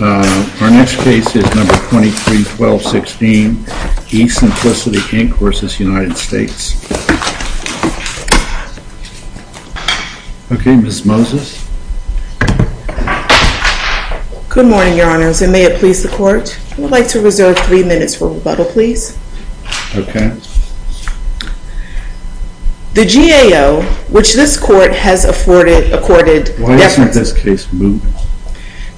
Our next case is No. 23-12-16, eSimplicity, Inc. v. United States. Okay, Ms. Moses. Good morning, Your Honors, and may it please the Court, I would like to reserve three minutes for rebuttal, please. Okay. The GAO, which this Court has accorded... Why hasn't this case moved?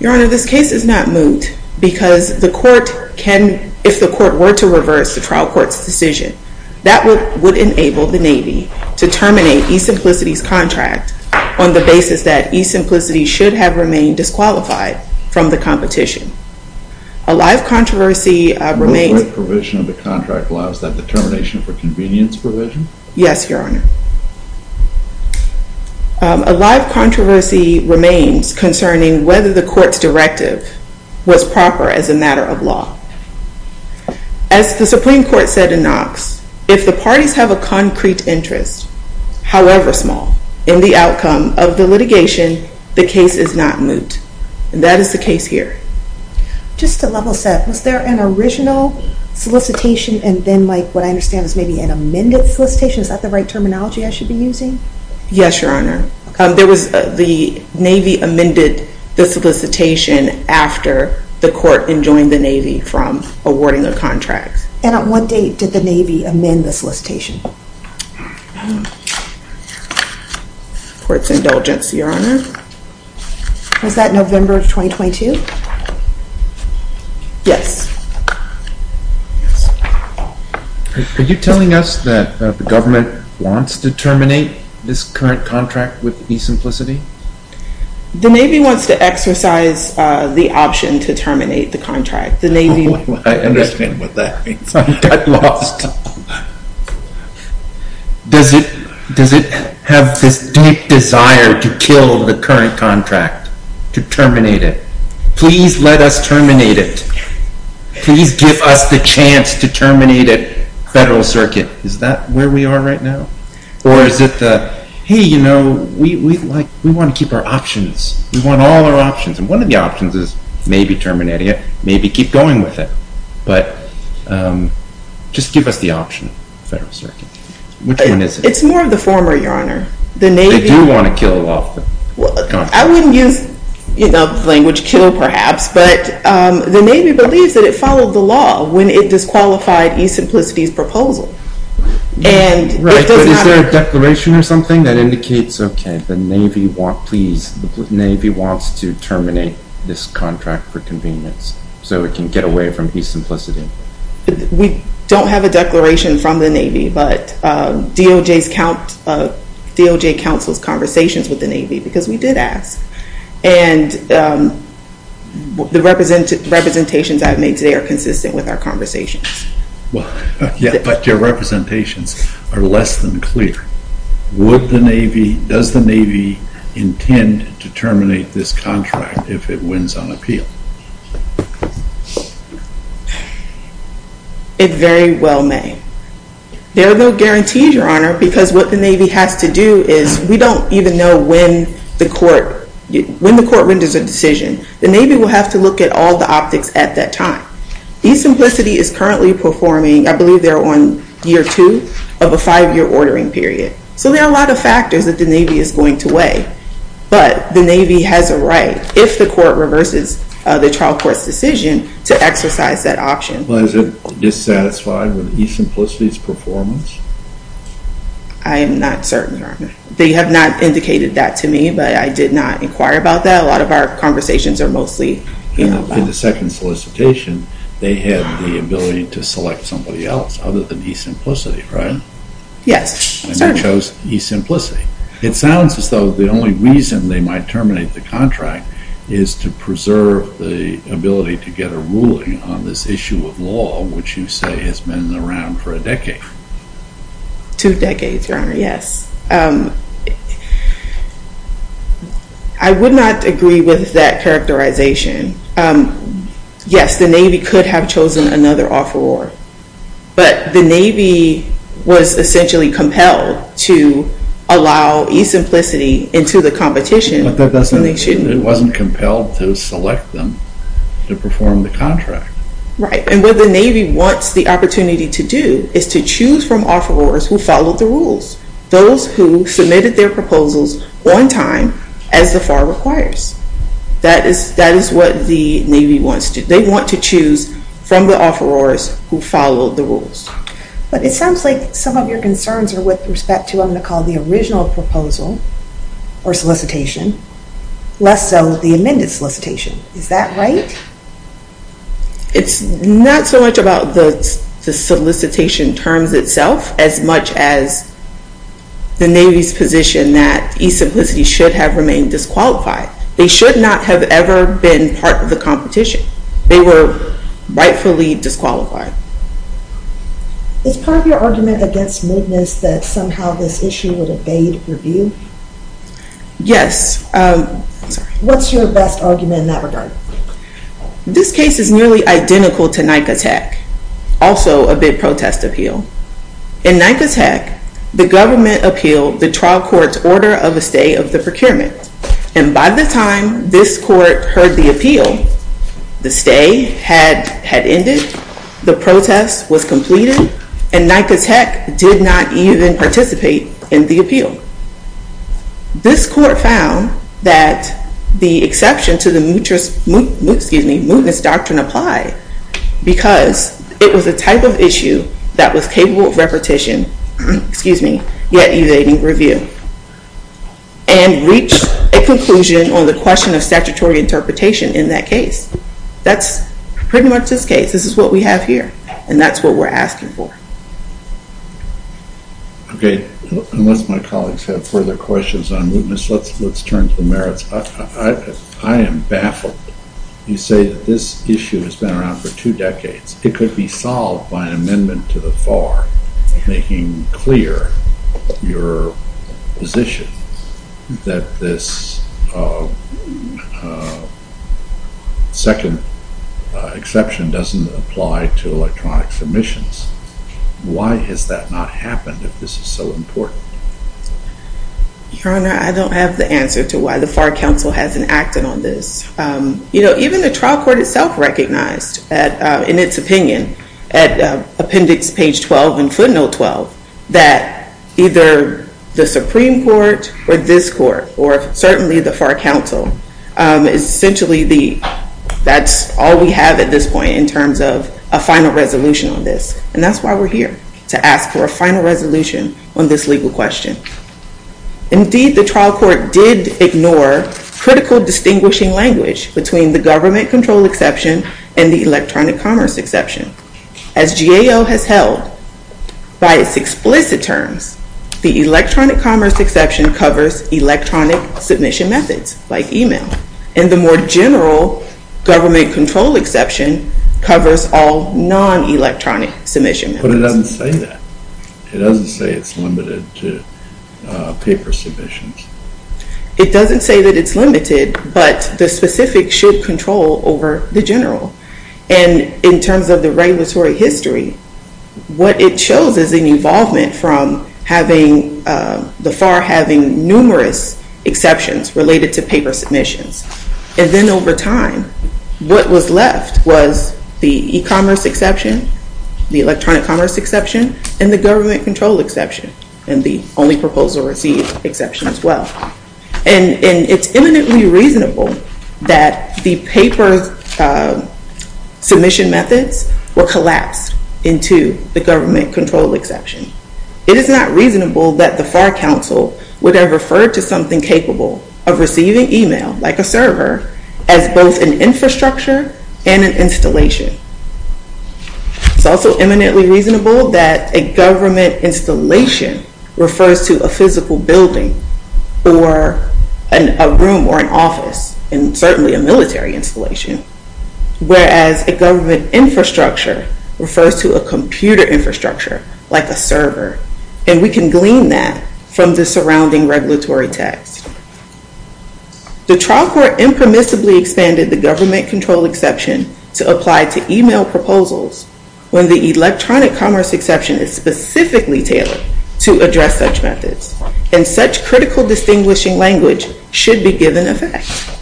Your Honor, this case is not moved because the Court can, if the Court were to reverse the trial court's decision, that would enable the Navy to terminate eSimplicity's contract on the basis that eSimplicity should have remained disqualified from the competition. A live controversy remains... The provision of the contract allows that determination for convenience provision? Yes, Your Honor. A live controversy remains concerning whether the Court's directive was proper as a matter of law. As the Supreme Court said in Knox, if the parties have a concrete interest, however small, in the outcome of the litigation, the case is not moot. And that is the case here. Just to level set, was there an original solicitation and then, like, what I understand is maybe an amended solicitation? Is that the right terminology I should be using? Yes, Your Honor. The Navy amended the solicitation after the Court enjoined the Navy from awarding the contract. And on what date did the Navy amend the solicitation? Court's indulgence, Your Honor. Was that November of 2022? Yes. Are you telling us that the government wants to terminate this current contract with eSimplicity? The Navy wants to exercise the option to terminate the contract. I understand what that means. I'm lost. Does it have this deep desire to kill the current contract, to terminate it? Please let us terminate it. Please give us the chance to terminate it, Federal Circuit. Is that where we are right now? Or is it the, hey, you know, we want to keep our options. We want all our options. And one of the options is maybe terminating it, maybe keep going with it. But just give us the option, Federal Circuit. Which one is it? It's more of the former, Your Honor. They do want to kill off the contract. I wouldn't use the language kill, perhaps, but the Navy believes that it followed the law when it disqualified eSimplicity's proposal. Right, but is there a declaration or something that indicates, okay, the Navy wants to terminate this contract for convenience so it can get away from eSimplicity? We don't have a declaration from the Navy, but DOJ counsels conversations with the Navy because we did ask. And the representations I've made today are consistent with our conversations. Well, yeah, but your representations are less than clear. Would the Navy, does the Navy intend to terminate this contract if it wins on appeal? It very well may. There are no guarantees, Your Honor, because what the Navy has to do is, we don't even know when the court renders a decision. The Navy will have to look at all the optics at that time. eSimplicity is currently performing, I believe they're on year two of a five-year ordering period. So there are a lot of factors that the Navy is going to weigh. But the Navy has a right, if the court reverses the trial court's decision, to exercise that option. Well, is it dissatisfied with eSimplicity's performance? I am not certain, Your Honor. They have not indicated that to me, but I did not inquire about that. A lot of our conversations are mostly about that. In the second solicitation, they had the ability to select somebody else other than eSimplicity, right? Yes, certainly. And they chose eSimplicity. It sounds as though the only reason they might terminate the contract is to preserve the ability to get a ruling on this issue of law, which you say has been around for a decade. Two decades, Your Honor, yes. I would not agree with that characterization. Yes, the Navy could have chosen another offeror. But the Navy was essentially compelled to allow eSimplicity into the competition. It wasn't compelled to select them to perform the contract. Right. And what the Navy wants the opportunity to do is to choose from offerors who followed the rules, those who submitted their proposals on time as the FAR requires. That is what the Navy wants to do. To choose from the offerors who followed the rules. But it sounds like some of your concerns are with respect to what I'm going to call the original proposal or solicitation, less so the amended solicitation. Is that right? It's not so much about the solicitation terms itself as much as the Navy's position that eSimplicity should have remained disqualified. They should not have ever been part of the competition. They were rightfully disqualified. Is part of your argument against mootness that somehow this issue would evade review? Yes. What's your best argument in that regard? This case is nearly identical to NICA Tech, also a big protest appeal. In NICA Tech, the government appealed the trial court's order of a stay of the procurement. And by the time this court heard the appeal, the stay had ended, the protest was completed, and NICA Tech did not even participate in the appeal. This court found that the exception to the mootness doctrine applied because it was a type of issue that was capable of repetition, yet evading review. And reached a conclusion on the question of statutory interpretation in that case. That's pretty much this case. This is what we have here, and that's what we're asking for. Okay. Unless my colleagues have further questions on mootness, let's turn to the merits. I am baffled. You say that this issue has been around for two decades. It could be solved by an amendment to the FAR making clear your position that this second exception doesn't apply to electronic submissions. Why has that not happened if this is so important? Your Honor, I don't have the answer to why the FAR counsel hasn't acted on this. Even the trial court itself recognized, in its opinion, at appendix page 12 and footnote 12, that either the Supreme Court or this court, or certainly the FAR counsel, essentially that's all we have at this point in terms of a final resolution on this. And that's why we're here, to ask for a final resolution on this legal question. Indeed, the trial court did ignore critical distinguishing language between the government control exception and the electronic commerce exception. As GAO has held, by its explicit terms, the electronic commerce exception covers electronic submission methods, like email, and the more general government control exception covers all non-electronic submission methods. But it doesn't say that. It doesn't say it's limited to paper submissions. It doesn't say that it's limited, but the specific should control over the general. And in terms of the regulatory history, what it shows is an involvement from the FAR having numerous exceptions related to paper submissions. And then over time, what was left was the e-commerce exception, the electronic commerce exception, and the government control exception, and the only proposal received exception as well. And it's eminently reasonable that the paper submission methods were collapsed into the government control exception. It is not reasonable that the FAR counsel would have referred to something capable of receiving email, like a server, as both an infrastructure and an installation. It's also eminently reasonable that a government installation refers to a physical building or a room or an office, and certainly a military installation, whereas a government infrastructure refers to a computer infrastructure, like a server. And we can glean that from the surrounding regulatory text. The trial court impermissibly expanded the government control exception to apply to email proposals when the electronic commerce exception is specifically tailored to address such methods. And such critical distinguishing language should be given effect.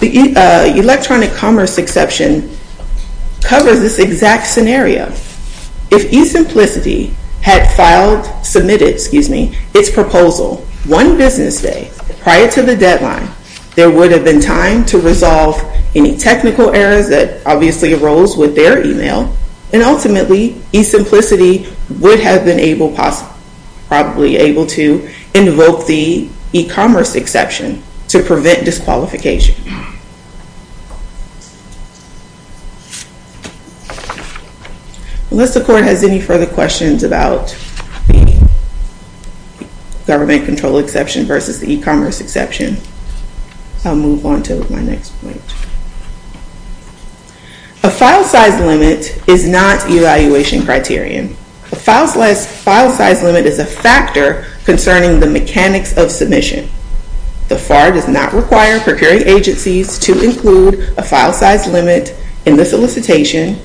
The electronic commerce exception covers this exact scenario. If eSimplicity had filed, submitted, excuse me, its proposal one business day prior to the deadline, there would have been time to resolve any technical errors that obviously arose with their email, and ultimately, eSimplicity would have been able to invoke the e-commerce exception to prevent disqualification. Unless the court has any further questions about the government control exception versus the e-commerce exception, I'll move on to my next point. A file size limit is not evaluation criterion. A file size limit is a factor concerning the mechanics of submission. The FAR does not require procuring agencies to include a file size limit in the solicitation,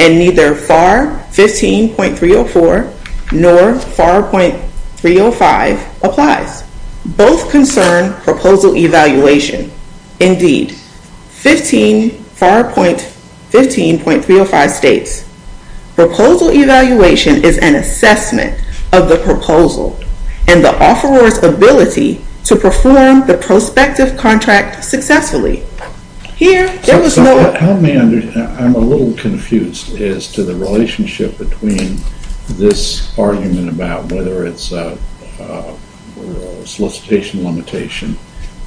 and neither FAR 15.304 nor FAR .305 applies. Both concern proposal evaluation. Indeed, FAR 15.305 states, proposal evaluation is an assessment of the proposal and the offeror's ability to perform the prospective contract successfully. Here, there was no... Help me understand. I'm a little confused as to the relationship between this argument about whether it's a solicitation limitation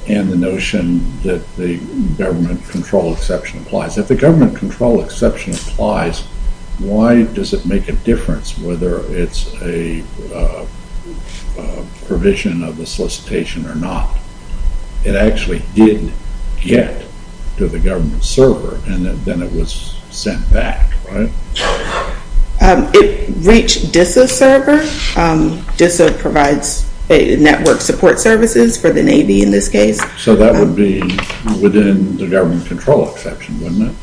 and the notion that the government control exception applies. If the government control exception applies, why does it make a difference whether it's a provision of the solicitation or not? It actually did get to the government server, and then it was sent back, right? It reached DISA server. DISA provides network support services for the Navy in this case. So that would be within the government control exception, wouldn't it?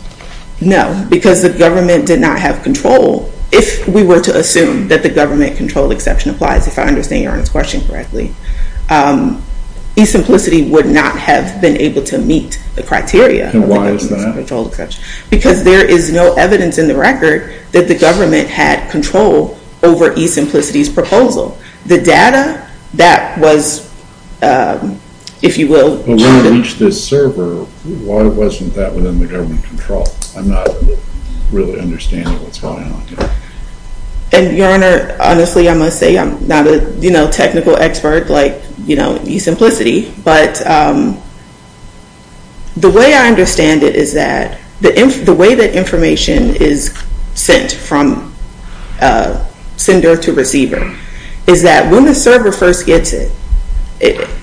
No, because the government did not have control. If we were to assume that the government control exception applies, if I understand your question correctly, E-Simplicity would not have been able to meet the criteria. And why is that? Because there is no evidence in the record that the government had control over E-Simplicity's proposal. The data that was, if you will... When it reached this server, why wasn't that within the government control? I'm not really understanding what's going on here. Your Honor, honestly, I must say I'm not a technical expert like E-Simplicity, but the way I understand it is that the way that information is sent from sender to receiver is that when the server first gets it,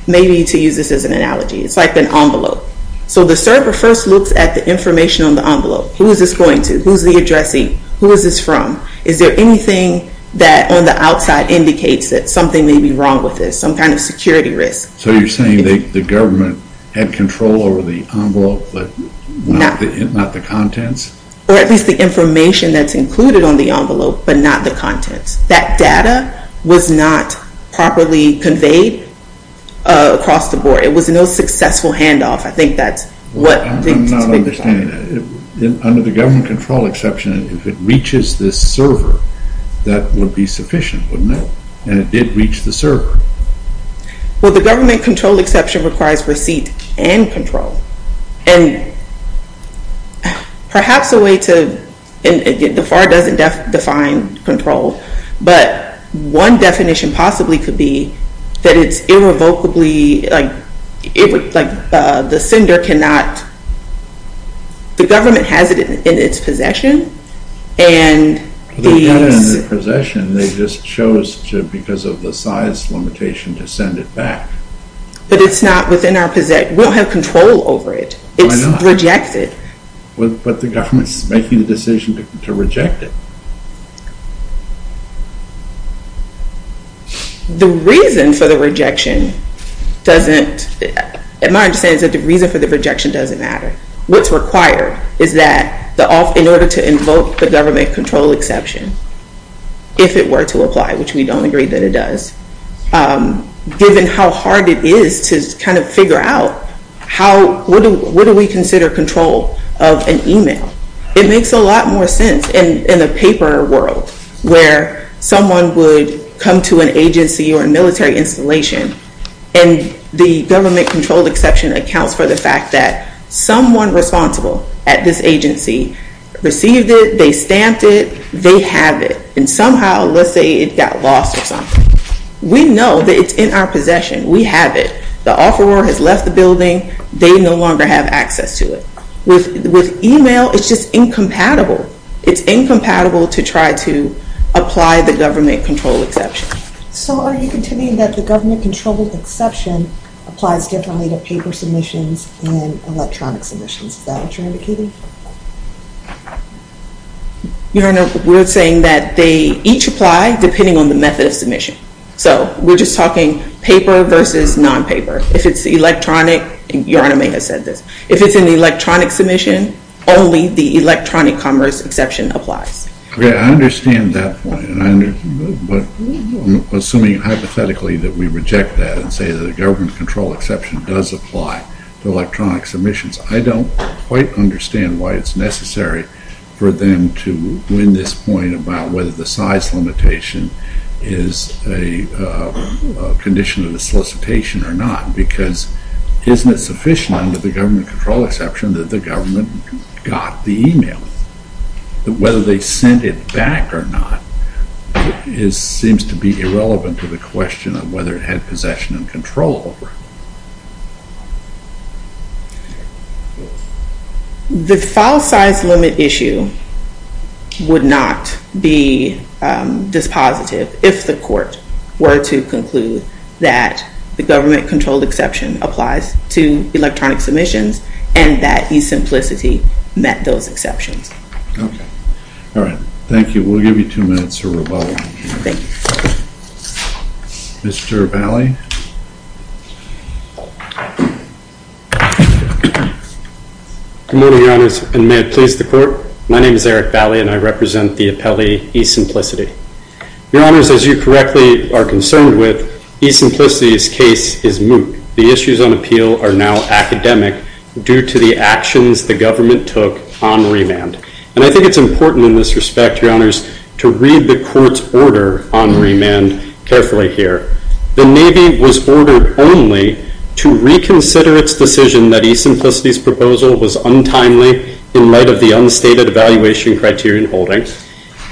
maybe to use this as an analogy, it's like an envelope. So the server first looks at the information on the envelope. Who is this going to? Who is the addressing? Who is this from? Is there anything that on the outside indicates that something may be wrong with this, some kind of security risk? So you're saying the government had control over the envelope, but not the contents? Or at least the information that's included on the envelope, but not the contents. That data was not properly conveyed across the board. It was no successful handoff. I think that's what... I'm not understanding that. Under the government control exception, if it reaches this server, that would be sufficient, wouldn't it? And it did reach the server. Well, the government control exception requires receipt and control. And perhaps a way to... The FAR doesn't define control. But one definition possibly could be that it's irrevocably... Like the sender cannot... The government has it in its possession. For the data in their possession, they just chose to, because of the size limitation, to send it back. But it's not within our... We don't have control over it. It's rejected. But the government's making the decision to reject it. The reason for the rejection doesn't... My understanding is that the reason for the rejection doesn't matter. What's required is that in order to invoke the government control exception, if it were to apply, which we don't agree that it does, given how hard it is to kind of figure out how... What do we consider control of an email? It makes a lot more sense in the paper world where someone would come to an agency or a military installation and the government control exception accounts for the fact that someone responsible at this agency received it, they stamped it, they have it. And somehow, let's say, it got lost or something. We know that it's in our possession. We have it. The offeror has left the building. They no longer have access to it. With email, it's just incompatible. It's incompatible to try to apply the government control exception. So are you contending that the government control exception applies differently to paper submissions and electronic submissions? Is that what you're indicating? Your Honor, we're saying that they each apply depending on the method of submission. So we're just talking paper versus non-paper. If it's electronic, Your Honor may have said this, if it's an electronic submission, only the electronic commerce exception applies. Okay, I understand that point. But assuming hypothetically that we reject that and say that the government control exception does apply to electronic submissions, I don't quite understand why it's necessary for them to win this point about whether the size limitation is a condition of the solicitation or not because isn't it sufficient under the government control exception that the government got the email? Whether they sent it back or not seems to be irrelevant to the question of whether it had possession and control over it. The file size limit issue would not be dispositive if the court were to conclude that the government control exception applies to electronic submissions and that e-Simplicity met those exceptions. All right. Thank you. We'll give you two minutes to rebuttal. Thank you. Mr. Bally? Good morning, Your Honors, and may it please the Court. My name is Eric Bally and I represent the appellee e-Simplicity. Your Honors, as you correctly are concerned with, e-Simplicity's case is moot. The issues on appeal are now academic due to the actions the government took on remand. And I think it's important in this respect, Your Honors, to read the Court's order on remand carefully here. The Navy was ordered only to reconsider its decision that e-Simplicity's proposal was untimely in light of the unstated evaluation criterion holding.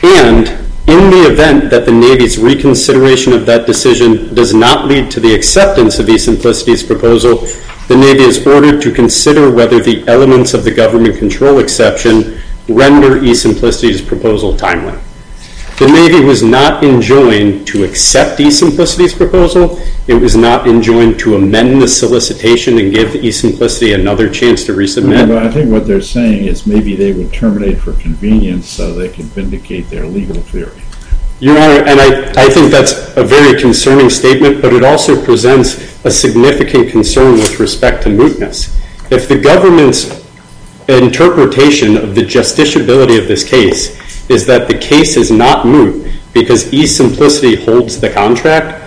And in the event that the Navy's reconsideration of that decision does not lead to the acceptance of e-Simplicity's proposal, the Navy is ordered to consider whether the elements of the government control exception render e-Simplicity's proposal timely. The Navy was not enjoined to accept e-Simplicity's proposal. It was not enjoined to amend the solicitation and give e-Simplicity another chance to resubmit. And I think what they're saying is maybe they would terminate for convenience so they could vindicate their legal theory. Your Honor, and I think that's a very concerning statement, but it also presents a significant concern with respect to mootness. If the government's interpretation of the justiciability of this case is that the case is not moot because e-Simplicity holds the contract,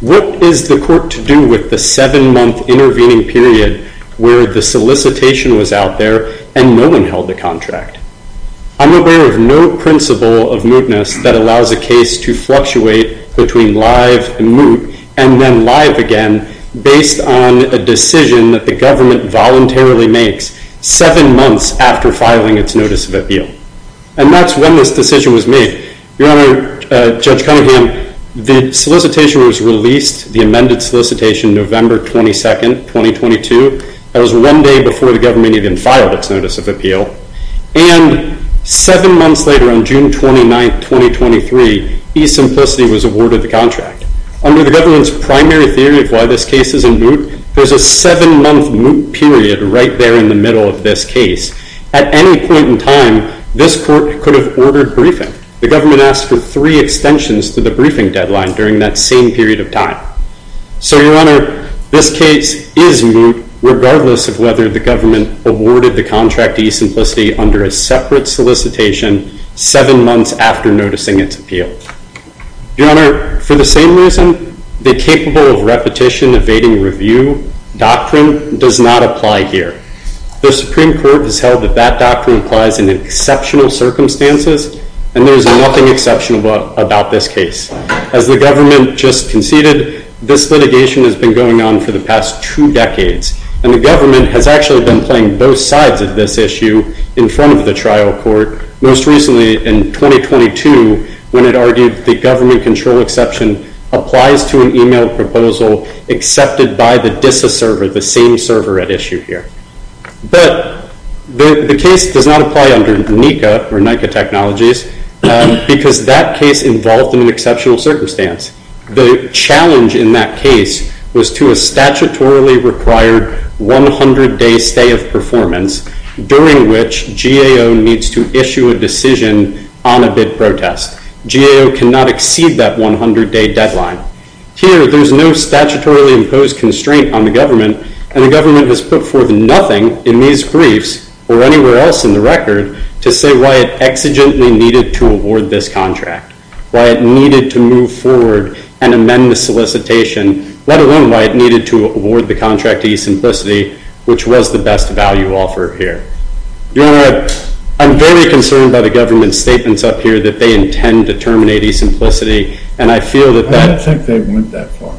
what is the court to do with the seven-month intervening period where the solicitation was out there and no one held the contract? I'm aware of no principle of mootness that allows a case to fluctuate between live and moot and then live again based on a decision that the government voluntarily makes seven months after filing its notice of appeal. And that's when this decision was made. Your Honor, Judge Cunningham, the solicitation was released, the amended solicitation, November 22, 2022. That was one day before the government even filed its notice of appeal. And seven months later, on June 29, 2023, e-Simplicity was awarded the contract. Under the government's primary theory of why this case is in moot, there's a seven-month moot period right there in the middle of this case. At any point in time, this court could have ordered briefing. The government asked for three extensions to the briefing deadline during that same period of time. So, Your Honor, this case is moot regardless of whether the government awarded the contract to e-Simplicity under a separate solicitation seven months after noticing its appeal. Your Honor, for the same reason, the capable of repetition evading review doctrine does not apply here. The Supreme Court has held that that doctrine applies in exceptional circumstances, and there is nothing exceptional about this case. As the government just conceded, this litigation has been going on for the past two decades. And the government has actually been playing both sides of this issue in front of the trial court, most recently in 2022, when it argued the government control exception applies to an e-mail proposal accepted by the DISA server, the same server at issue here. But the case does not apply under NICA or NICA Technologies because that case involved in an exceptional circumstance. The challenge in that case was to a statutorily required 100-day stay of performance during which GAO needs to issue a decision on a bid protest. GAO cannot exceed that 100-day deadline. Here, there's no statutorily imposed constraint on the government, and the government has put forth nothing in these briefs or anywhere else in the record to say why it exigently needed to award this contract, why it needed to move forward and amend the solicitation, let alone why it needed to award the contract to e-Simplicity, which was the best value offer here. Your Honor, I'm very concerned by the government's statements up here that they intend to terminate e-Simplicity, and I feel that that— I don't think they went that far.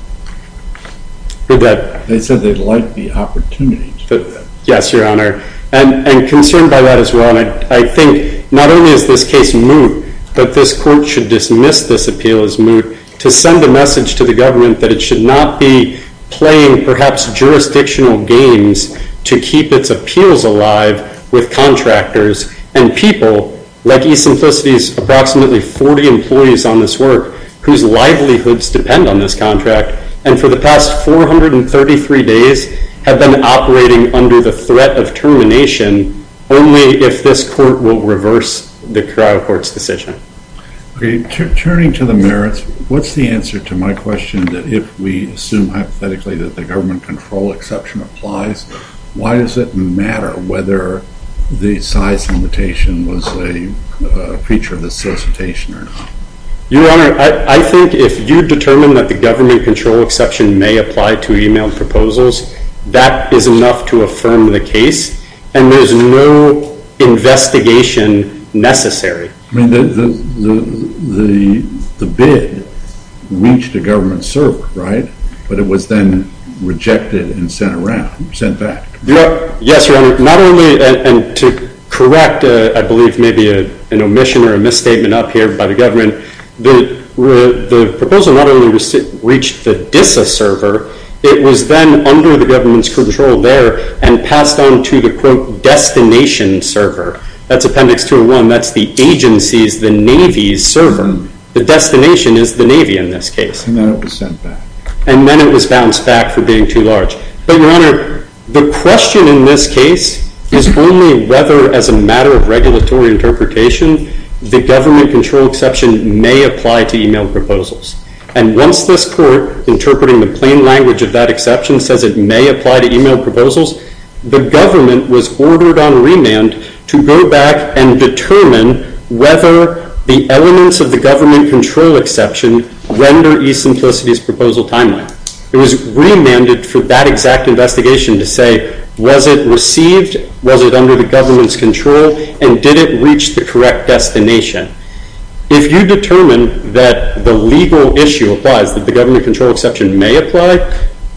They said they liked the opportunity to do that. Yes, Your Honor. And concerned by that as well, I think not only is this case moot, but this Court should dismiss this appeal as moot to send a message to the government that it should not be playing perhaps jurisdictional games to keep its appeals alive with contractors and people, like e-Simplicity's approximately 40 employees on this work, whose livelihoods depend on this contract, and for the past 433 days have been operating under the threat of termination only if this Court will reverse the trial court's decision. Okay, turning to the merits, what's the answer to my question that if we assume hypothetically that the government control exception applies, why does it matter whether the size limitation was a feature of the solicitation or not? Your Honor, I think if you determine that the government control exception may apply to e-mail proposals, that is enough to affirm the case, and there's no investigation necessary. I mean, the bid reached a government server, right? But it was then rejected and sent back. Yes, Your Honor. And to correct, I believe, maybe an omission or a misstatement up here by the government, the proposal not only reached the DISA server, it was then under the government's control there and passed on to the, quote, destination server. That's Appendix 201. That's the agency's, the Navy's server. The destination is the Navy in this case. And then it was sent back. And then it was bounced back for being too large. But, Your Honor, the question in this case is only whether, as a matter of regulatory interpretation, the government control exception may apply to e-mail proposals. And once this court, interpreting the plain language of that exception, says it may apply to e-mail proposals, the government was ordered on remand to go back and determine whether the elements of the government control exception render e-simplicity's proposal timely. It was remanded for that exact investigation to say, was it received? Was it under the government's control? And did it reach the correct destination? If you determine that the legal issue applies, that the government control exception may apply,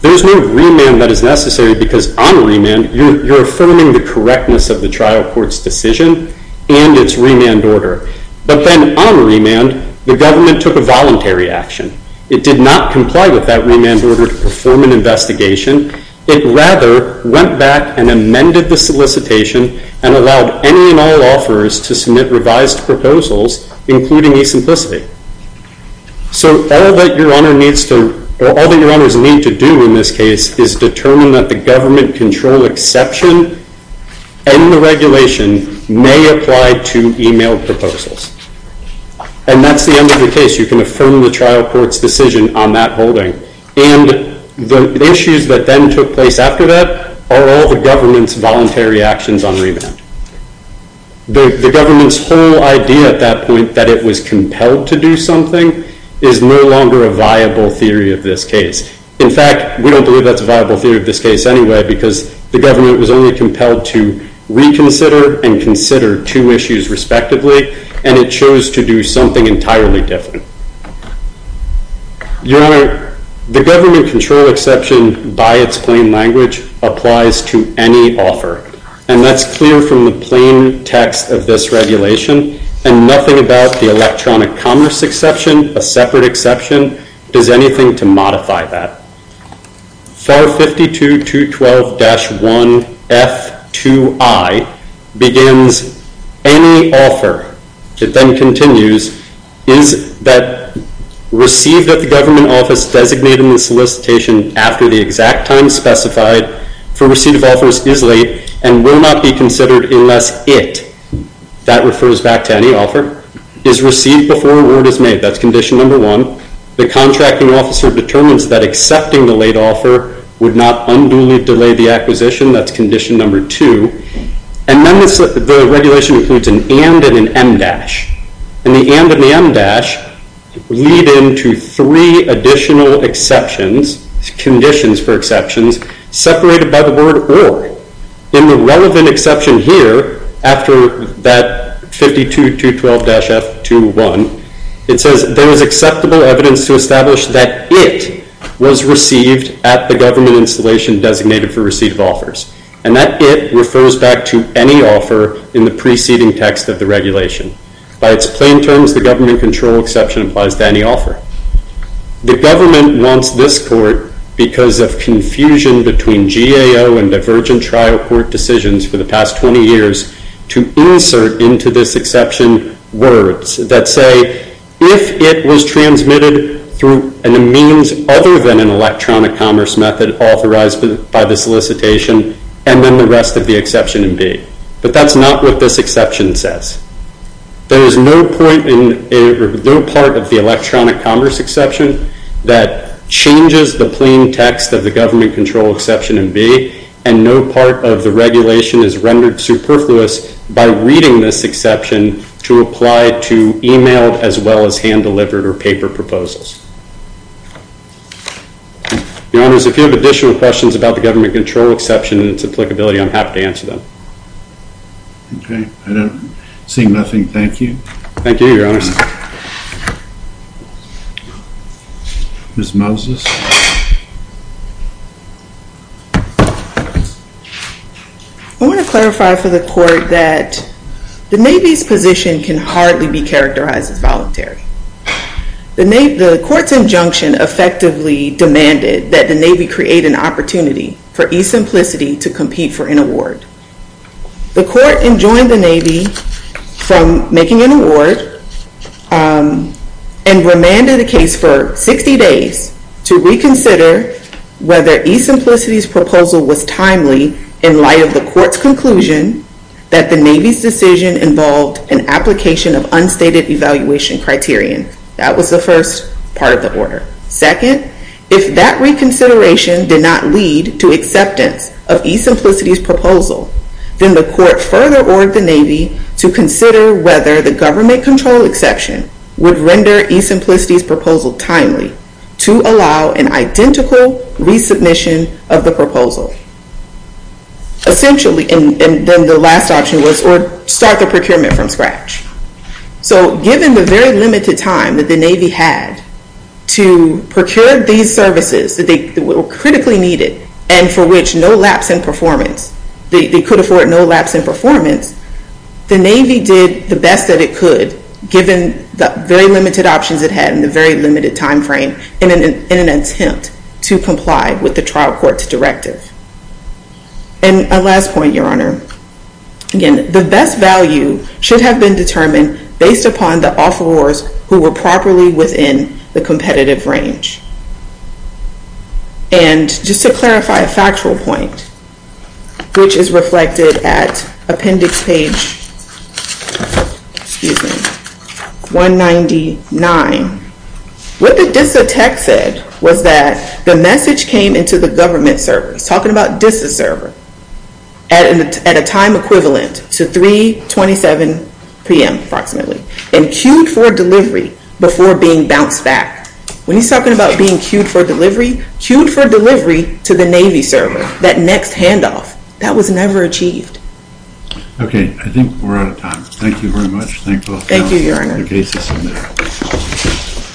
there's no remand that is necessary because on remand, you're affirming the correctness of the trial court's decision and its remand order. But then on remand, the government took a voluntary action. It did not comply with that remand order to perform an investigation. It rather went back and amended the solicitation and allowed any and all offers to submit revised proposals, including e-simplicity. So all that Your Honors need to do in this case is determine that the government control exception and the regulation may apply to e-mail proposals. And that's the end of the case. You can affirm the trial court's decision on that holding. And the issues that then took place after that are all the government's voluntary actions on remand. The government's whole idea at that point that it was compelled to do something is no longer a viable theory of this case. In fact, we don't believe that's a viable theory of this case anyway because the government was only compelled to reconsider and consider two issues respectively. And it chose to do something entirely different. Your Honor, the government control exception by its plain language applies to any offer. And that's clear from the plain text of this regulation. And nothing about the electronic commerce exception, a separate exception, does anything to modify that. FAR 52-212-1F2I begins, any offer, it then continues, is that received at the government office designated in the solicitation after the exact time specified for receipt of offers is late and will not be considered unless it, that refers back to any offer, is received before a word is made. That's condition number one. The contracting officer determines that accepting the late offer would not unduly delay the acquisition. That's condition number two. And then the regulation includes an and and an em dash. And the and and the em dash lead into three additional exceptions, conditions for exceptions, separated by the word or. In the relevant exception here, after that 52-212-F2I, it says, there is acceptable evidence to establish that it was received at the government installation designated for receipt of offers. And that it refers back to any offer in the preceding text of the regulation. By its plain terms, the government control exception applies to any offer. The government wants this court, because of confusion between GAO and divergent trial court decisions for the past 20 years, to insert into this exception words that say, if it was transmitted through a means other than an electronic commerce method authorized by the solicitation, and then the rest of the exception in B. But that's not what this exception says. There is no part of the electronic commerce exception that changes the plain text of the government control exception in B. And no part of the regulation is rendered superfluous by reading this exception to apply to emailed as well as hand-delivered or paper proposals. Your Honors, if you have additional questions about the government control exception and its applicability, I'm happy to answer them. Okay. I don't see nothing. Thank you. Thank you, Your Honors. Ms. Moses? I want to clarify for the court that the Navy's position can hardly be characterized as voluntary. The court's injunction effectively demanded that the Navy create an opportunity for e-simplicity to compete for an award. The court enjoined the Navy from making an award and remanded the case for 60 days to reconsider whether e-simplicity's proposal was timely in light of the court's conclusion that the Navy's decision involved an application of unstated evaluation criterion. That was the first part of the order. Second, if that reconsideration did not lead to acceptance of e-simplicity's proposal, then the court further ordered the Navy to consider whether the government control exception would render e-simplicity's proposal timely to allow an identical resubmission of the proposal. And then the last option was start the procurement from scratch. So given the very limited time that the Navy had to procure these services that were critically needed and for which no lapse in performance, they could afford no lapse in performance, the Navy did the best that it could given the very limited options it had and the very limited time frame in an attempt to comply with the trial court's directive. And a last point, Your Honor. Again, the best value should have been determined based upon the offerors who were properly within the competitive range. And just to clarify a factual point, which is reflected at appendix page 199, what the DISA tech said was that the message came into the government servers, talking about DISA server, at a time equivalent to 3.27 p.m. approximately, and queued for delivery before being bounced back. When he's talking about being queued for delivery, queued for delivery to the Navy server, that next handoff. That was never achieved. Okay, I think we're out of time. Thank you very much. Thank both counsels. Thank you, Your Honor. The case is submitted.